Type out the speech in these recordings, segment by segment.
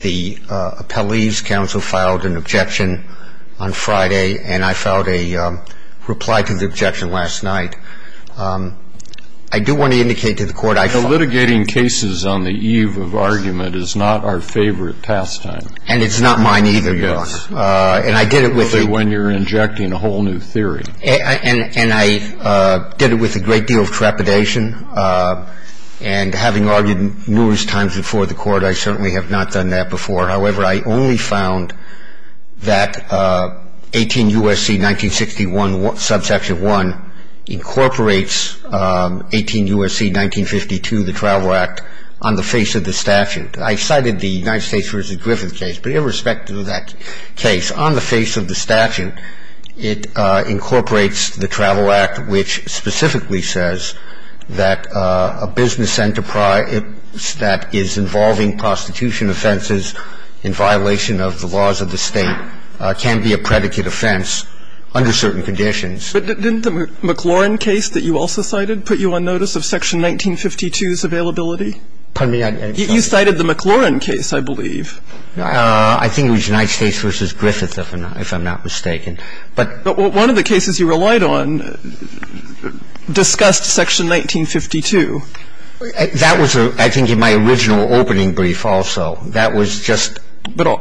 The appellee's counsel filed an objection on Friday, and I filed a reply to the objection last night. I do want to indicate to the court I Litigating cases on the eve of argument is not our favorite pastime. And it's not mine either, Your Honor. And I did it with Only when you're injecting a whole new theory. And I did it with a great deal of trepidation. And having argued numerous times before the court, I certainly have not done that before. However, I only found that 18 U.S.C. 1961, subsection 1 incorporates 18 U.S.C. 1952, the Travel Act, on the face of the statute. I cited the United States v. Griffith case, but irrespective of that case, on the face of the statute, it incorporates the Travel Act, which specifically says that a business enterprise that is involving prostitution offenses in violation of the laws of the State can be a predicate offense under certain conditions. But didn't the McLaurin case that you also cited put you on notice of section 1952's availability? Pardon me? You cited the McLaurin case, I believe. I think it was United States v. Griffith, if I'm not mistaken. But one of the cases you relied on discussed section 1952. That was, I think, in my original opening brief also. That was just But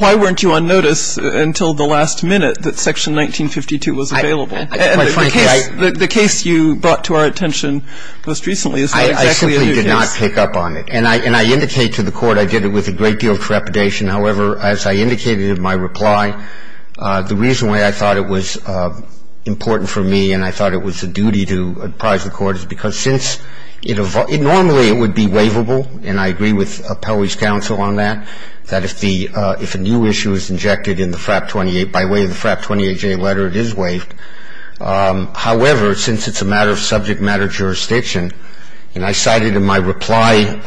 why weren't you on notice until the last minute that section 1952 was available? And the case you brought to our attention most recently is not exactly a new case. I simply did not pick up on it. And I indicate to the Court I did it with a great deal of trepidation. However, as I indicated in my reply, the reason why I thought it was important for me and I thought it was a duty to prize the Court is because since it normally would be waivable, and I agree with Appellee's counsel on that, that if a new issue is injected in the FRAP 28, by way of the FRAP 28J letter, it is waived. However, since it's a matter of subject matter jurisdiction, and I cited in my reply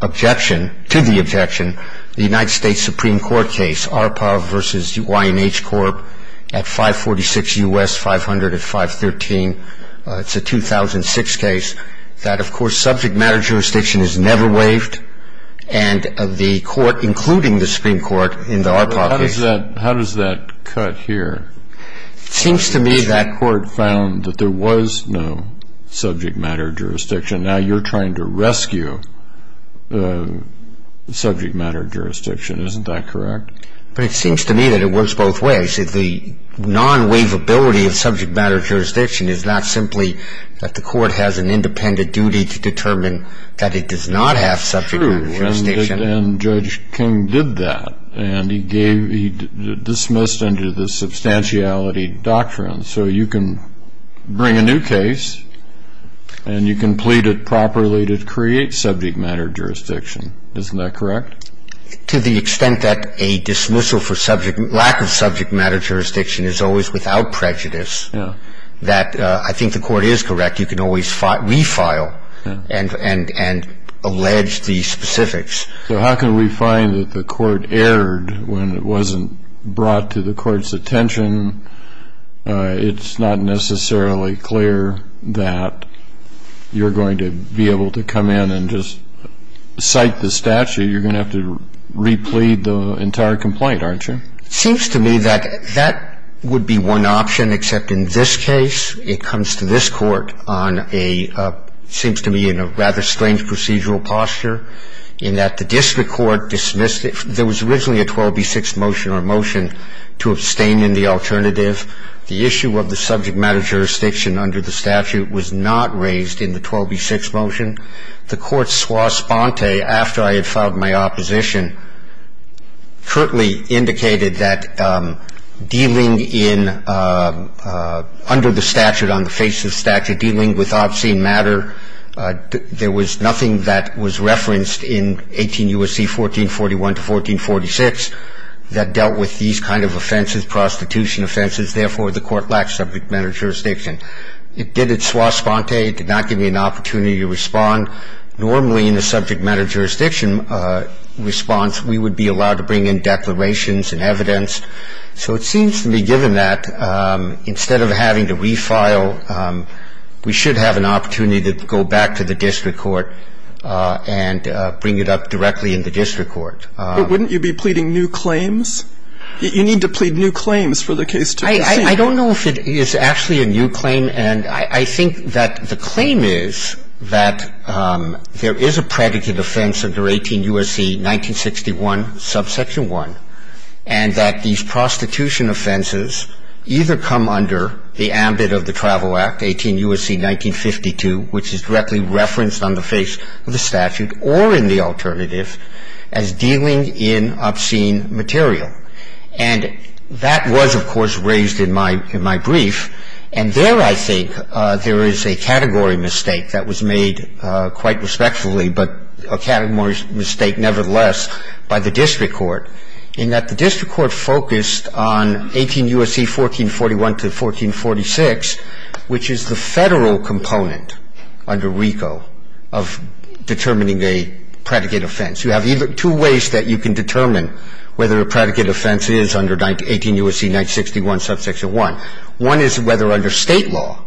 objection, to the objection, the United States Supreme Court case, ARPAV v. Y&H Corp. at 546 U.S. 500 at 513. It's a 2006 case. That, of course, subject matter jurisdiction is never waived. And the Court, including the Supreme Court, in the ARPAV case How does that cut here? It seems to me that Court found that there was no subject matter jurisdiction. Now you're trying to rescue subject matter jurisdiction. Isn't that correct? But it seems to me that it works both ways. The non-waivability of subject matter jurisdiction is not simply that the Court has an independent duty to determine that it does not have subject matter jurisdiction. True. And Judge King did that. And he dismissed under the substantiality doctrine. So you can bring a new case, and you can plead it properly to create subject matter jurisdiction. Isn't that correct? To the extent that a dismissal for lack of subject matter jurisdiction is always without prejudice, that I think the Court is correct. You can always refile and allege the specifics. So how can we find that the Court erred when it wasn't brought to the Court's attention? It's not necessarily clear that you're going to be able to come in and just cite the statute. You're going to have to replead the entire complaint, aren't you? It seems to me that that would be one option, except in this case it comes to this Court on a It seems to me in a rather strange procedural posture in that the district court dismissed it. There was originally a 12b6 motion or motion to abstain in the alternative. The issue of the subject matter jurisdiction under the statute was not raised in the 12b6 motion. The Court swore sponte after I had filed my opposition, in the case of the 18 U.S.C. 1441 to 1446, and the Court currently indicated that dealing in under the statute on the face of the statute, dealing with obscene matter, there was nothing that was referenced in 18 U.S.C. 1441 to 1446 that dealt with these kind of offenses, prostitution offenses, therefore the Court lacked subject matter jurisdiction. It did it swore sponte. It did not give me an opportunity to respond. Normally, in a subject matter jurisdiction response, we would be allowed to bring in declarations and evidence. So it seems to me, given that, instead of having to refile, we should have an opportunity to go back to the district court and bring it up directly in the district court. But wouldn't you be pleading new claims? You need to plead new claims for the case to be seen. I don't know if it is actually a new claim. And I think that the claim is that there is a predicate offense under 18 U.S.C. 1961, subsection 1, and that these prostitution offenses either come under the ambit of the Travel Act, 18 U.S.C. 1952, which is directly referenced on the face of the And that was, of course, raised in my brief. And there, I think, there is a category mistake that was made quite respectfully, but a category mistake nevertheless, by the district court, in that the district court focused on 18 U.S.C. 1441 to 1446, which is the federal component under RICO of determining a predicate offense. You have two ways that you can determine whether a predicate offense is under 18 U.S.C. 1961, subsection 1. One is whether under state law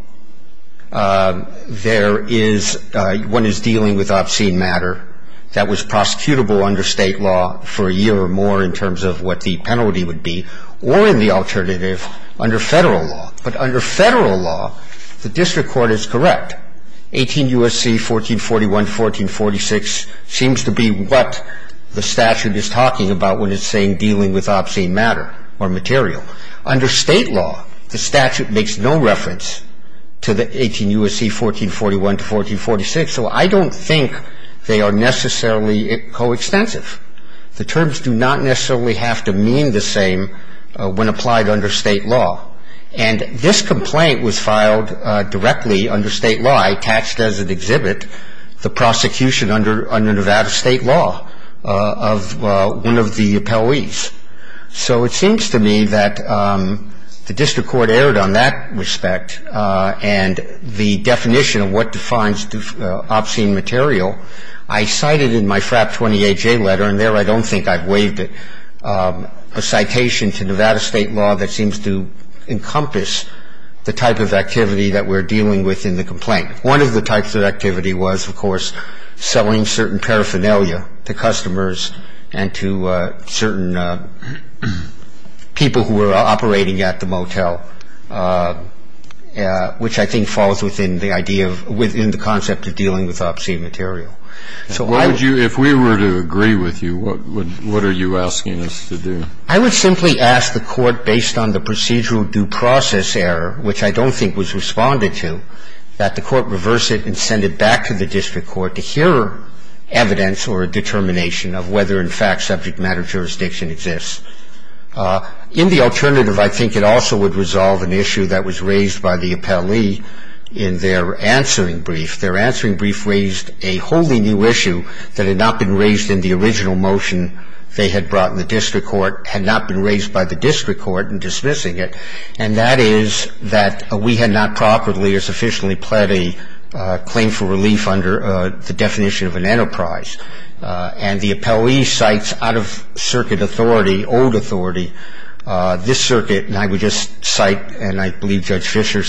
there is one is dealing with obscene matter that was prosecutable under state law for a year or more in terms of what the penalty would be, or in the alternative, under federal law. But under federal law, the district court is correct. 18 U.S.C. 1441 to 1446 seems to be what the statute is talking about when it's saying dealing with obscene matter or material. Under state law, the statute makes no reference to the 18 U.S.C. 1441 to 1446, so I don't think they are necessarily coextensive. The terms do not necessarily have to mean the same when applied under state law. And this complaint was filed directly under state law. I attached as an exhibit the prosecution under Nevada state law of one of the appellees. So it seems to me that the district court erred on that respect and the definition of what defines obscene material. I cited in my FRAP 28-J letter, and there I don't think I've waived it, a citation to Nevada state law that seems to encompass the type of activity that we're dealing with in the complaint. One of the types of activity was, of course, selling certain paraphernalia to customers and to certain people who were operating at the motel, which I think falls within the concept of dealing with obscene material. So I would If we were to agree with you, what are you asking us to do? I would simply ask the court, based on the procedural due process error, which I don't think was responded to, that the court reverse it and send it back to the district court to hear evidence or a determination of whether in fact subject matter jurisdiction exists. In the alternative, I think it also would resolve an issue that was raised by the appellee in their answering brief. Their answering brief raised a wholly new issue that had not been raised in the original motion they had brought in the district court, had not been raised by the district court in dismissing it, and that is that we had not properly or sufficiently pled a claim for relief under the definition of an enterprise. And the appellee cites out-of-circuit authority, old authority. This circuit, and I would just cite, and I believe Judge Fischer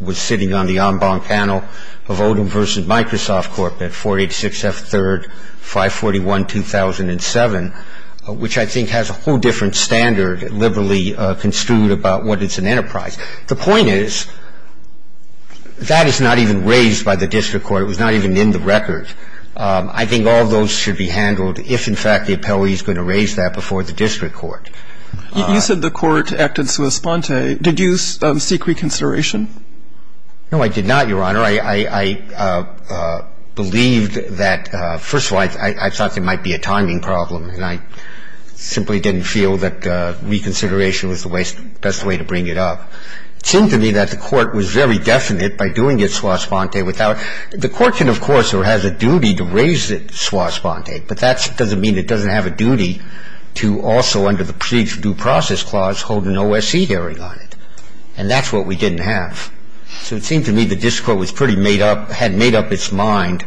was sitting on the en banc panel of Odum v. Microsoft Corp. at 486 F. 3rd, 541-2007, which I think has a whole different standard liberally construed about what is an enterprise. The point is that is not even raised by the district court. It was not even in the record. I think all of those should be handled if in fact the appellee is going to raise that before the district court. You said the Court acted sua sponte. Did you seek reconsideration? No, I did not, Your Honor. I believed that – first of all, I thought there might be a timing problem, and I simply didn't feel that reconsideration was the best way to bring it up. It seemed to me that the Court was very definite by doing it sua sponte without – the Court can, of course, or has a duty to raise it sua sponte, but that doesn't mean it doesn't have a duty to also, under the procedure due process clause, hold an OSC hearing on it. And that's what we didn't have. So it seemed to me the district court had made up its mind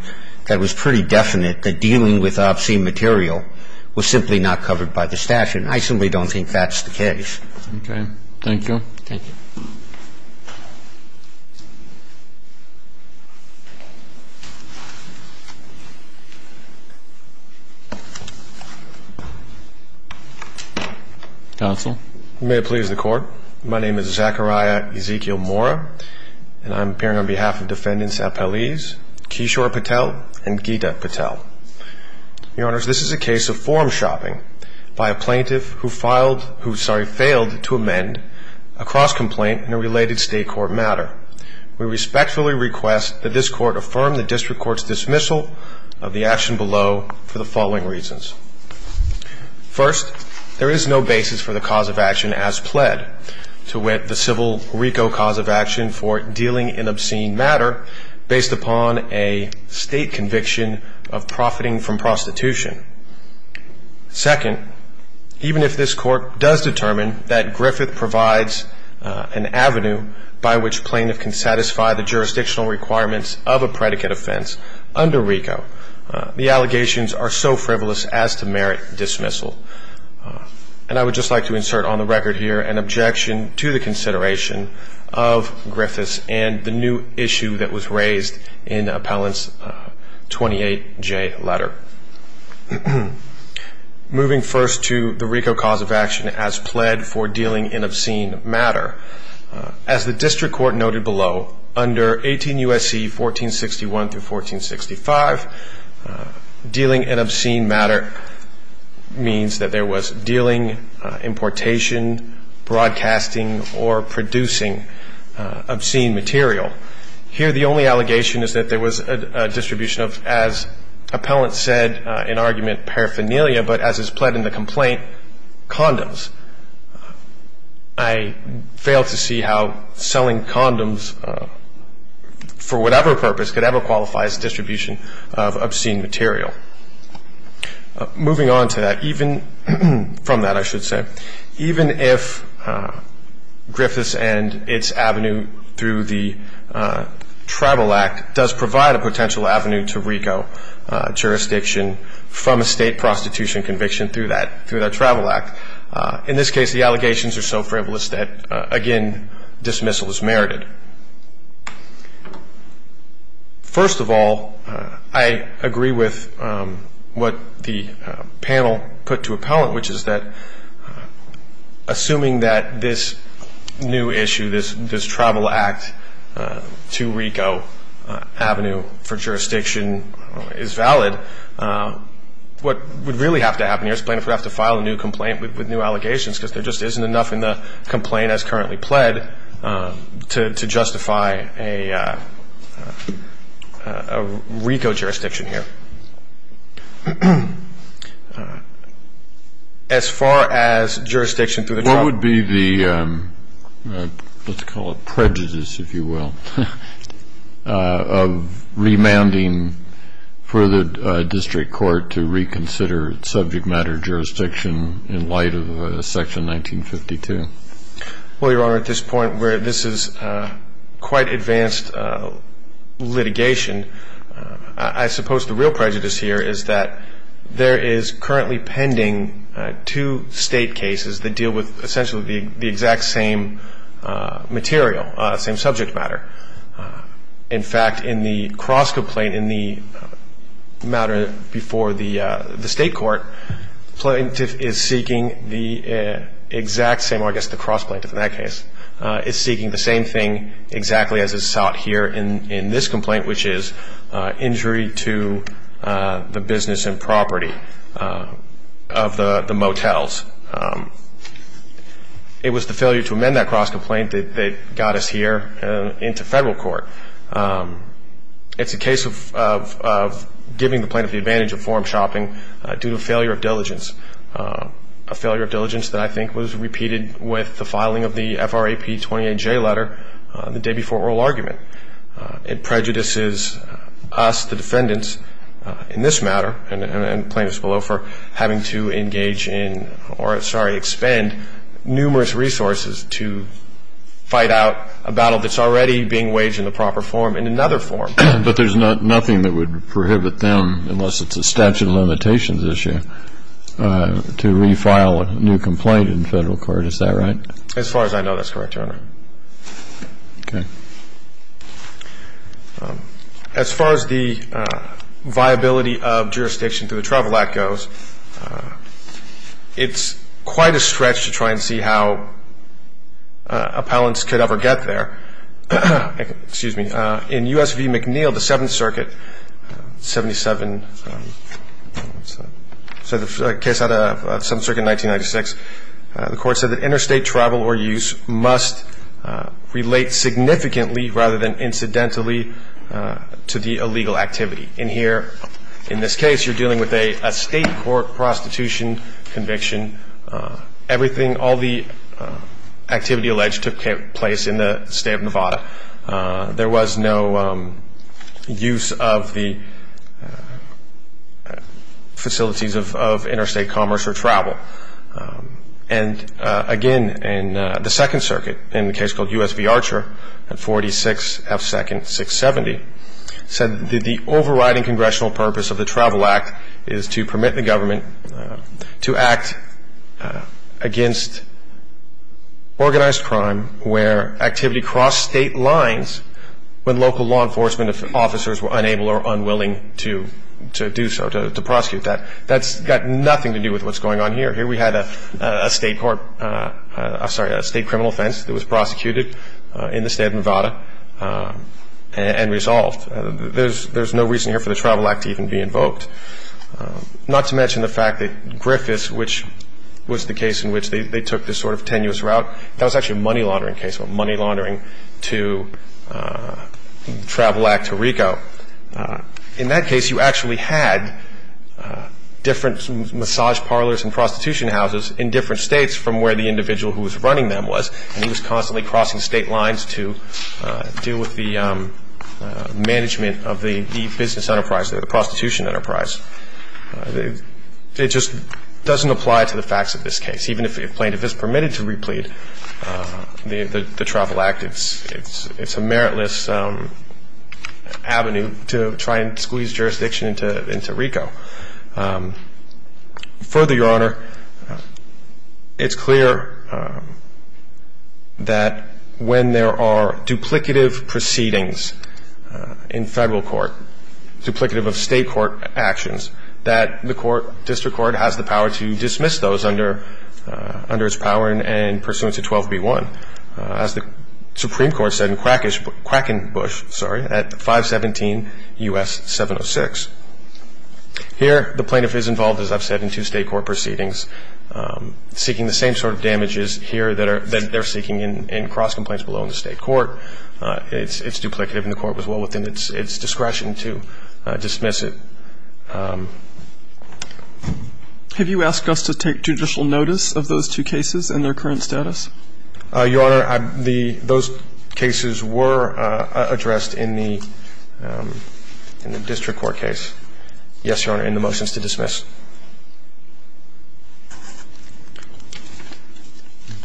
that it was pretty definite that dealing with obscene material was simply not covered by the statute, and I simply don't think that's the case. Okay. Thank you. Thank you. Counsel. May it please the Court. My name is Zachariah Ezekiel Mora, and I'm appearing on behalf of Defendants Apeliz, Kishore Patel, and Gita Patel. Your Honors, this is a case of form shopping by a plaintiff who filed – who, sorry, failed to amend a cross-complaint in a related state court matter. We respectfully request that this Court affirm the district court's dismissal of the action below for the following reasons. First, there is no basis for the cause of action as pled to wit the civil RICO cause of action for dealing in obscene matter based upon a state conviction of profiting from prostitution. Second, even if this Court does determine that Griffith provides an avenue by which plaintiff can satisfy the jurisdictional requirements of a predicate offense under RICO, the allegations are so frivolous as to merit dismissal. And I would just like to insert on the record here an objection to the consideration of Griffith's and the new issue that was raised in Appellant's 28J letter. Moving first to the RICO cause of action as pled for dealing in obscene matter, as the district court noted below, under 18 U.S.C. 1461 through 1465, dealing in obscene matter means that there was dealing, importation, broadcasting, or producing obscene material. Here the only allegation is that there was a distribution of, as Appellant said in argument paraphernalia, but as is pled in the complaint, condoms. I fail to see how selling condoms for whatever purpose could ever qualify as distribution of obscene material. Moving on to that, even from that I should say, even if Griffith's and its avenue through the Tribal Act does provide a potential avenue to RICO jurisdiction from a state prostitution conviction through that Tribal Act. In this case, the allegations are so frivolous that, again, dismissal is merited. First of all, I agree with what the panel put to Appellant, which is that assuming that this new issue, this Tribal Act to RICO avenue for jurisdiction is valid, what would really have to happen here is plain if we have to file a new complaint with new allegations because there just isn't enough in the complaint as currently pled to justify a RICO jurisdiction here. As far as jurisdiction through the Tribal Act. Well, Your Honor, at this point where this is quite advanced litigation, I suppose the real prejudice here is that there is currently pending two state cases that deal with essentially the exact same material, same subject matter. In fact, in the cross-complaint in the matter before the state court, plaintiff is seeking the exact same, or I guess the cross-plaintiff in that case, is seeking the same thing exactly as is sought here in this complaint, which is injury to the business and property of the motels. It was the failure to amend that cross-complaint that got us here into federal court. It's a case of giving the plaintiff the advantage of forum shopping due to failure of diligence, a failure of diligence that I think was repeated with the filing of the FRAP 28J letter the day before oral argument. It prejudices us, the defendants, in this matter, and plaintiffs below, for having to engage in or, sorry, expend numerous resources to fight out a battle that's already being waged in the proper forum in another forum. But there's nothing that would prohibit them, unless it's a statute of limitations issue, to refile a new complaint in federal court. Is that right? As far as I know, that's correct, Your Honor. Okay. As far as the viability of jurisdiction to the travel act goes, it's quite a stretch to try and see how appellants could ever get there. Excuse me. In U.S. v. McNeil, the Seventh Circuit, 77, so the case out of Seventh Circuit, 1996, the court said that interstate travel or use must relate significantly, rather than incidentally, to the illegal activity. And here, in this case, you're dealing with a state court prostitution conviction. Everything, all the activity alleged, took place in the state of Nevada. There was no use of the facilities of interstate commerce or travel. And, again, in the Second Circuit, in the case called U.S. v. Archer, 46 F. Second, 670, said that the overriding congressional purpose of the travel act is to permit the government to act against organized crime where activity crossed state lines when local law enforcement officers were unable or unwilling to do so, to prosecute that. That's got nothing to do with what's going on here. Here we had a state criminal offense that was prosecuted in the state of Nevada and resolved. There's no reason here for the travel act to even be invoked. Not to mention the fact that Griffiths, which was the case in which they took this sort of tenuous route, that was actually a money laundering case, money laundering to travel act to RICO. In that case, you actually had different massage parlors and prostitution houses in different states from where the individual who was running them was, and he was constantly crossing state lines to deal with the management of the business enterprise, the prostitution enterprise. It just doesn't apply to the facts of this case. Even if plaintiff is permitted to replead the travel act, it's a meritless avenue to try and squeeze jurisdiction into RICO. Further, Your Honor, it's clear that when there are duplicative proceedings in federal court, duplicative of state court actions, that the district court has the power to dismiss those under its power and pursuant to 12b-1. As the Supreme Court said in Quackenbush at 517 U.S. 706. Here, the plaintiff is involved, as I've said, in two state court proceedings, seeking the same sort of damages here that they're seeking in cross complaints below in the state court. It's duplicative and the court was well within its discretion to dismiss it. Have you asked us to take judicial notice of those two cases and their current status? Your Honor, those cases were addressed in the district court case. Yes, Your Honor, and the motion is to dismiss.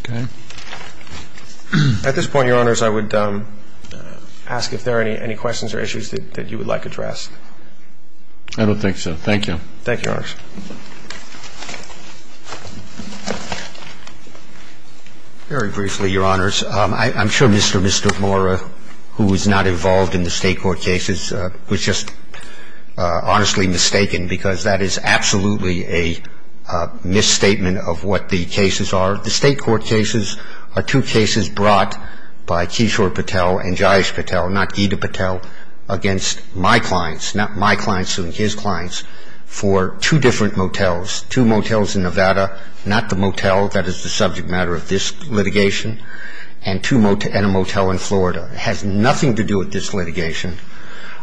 Okay. At this point, Your Honors, I would ask if there are any questions or issues that you would like addressed. I don't think so. Thank you. Thank you, Your Honors. Very briefly, Your Honors, I'm sure Mr. Mora, who is not involved in the state court cases, was just honestly mistaken because that is absolutely a misstatement of what the cases are. The state court cases are two cases brought by Kishore Patel and Jayesh Patel, not Gita Patel, against my clients, not my clients, his clients, for two different motels, two motels in Nevada, not the motel that is the subject matter of this litigation, and a motel in Florida. It has nothing to do with this litigation.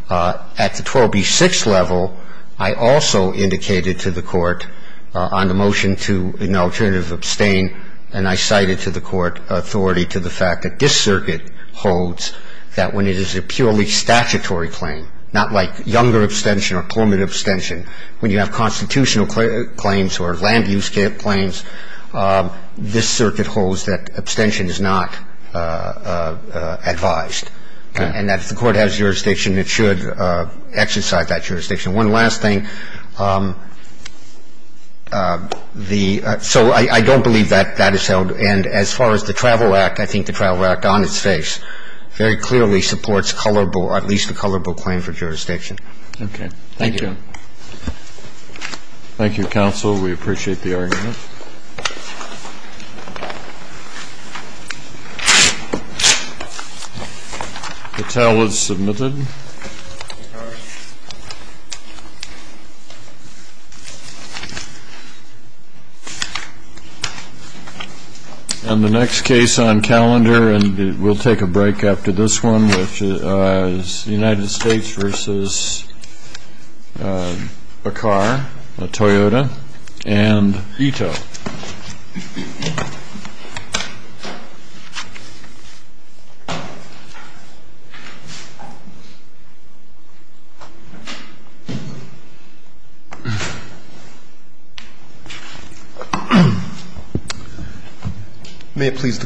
I would just like to add that the state court case is not a case of abstention. It's a case of abstention. At the 12B6 level, I also indicated to the Court on the motion to an alternative abstain, and I cited to the Court authority to the fact that this circuit holds that when it is a purely statutory claim, not like younger abstention or permanent abstention, when you have constitutional claims or land-use claims, this circuit holds that abstention is not advised. And that if the Court has jurisdiction, it should exercise that jurisdiction. One last thing. So I don't believe that that is held, and as far as the Travel Act, I think the Travel Act on its face very clearly supports at least a colorable claim for jurisdiction. Okay. Thank you. Thank you. Thank you, Counsel. We appreciate the argument. The towel is submitted. And the next case on calendar, and we'll take a break after this one, United States versus a car, a Toyota, and veto. May it please the Court.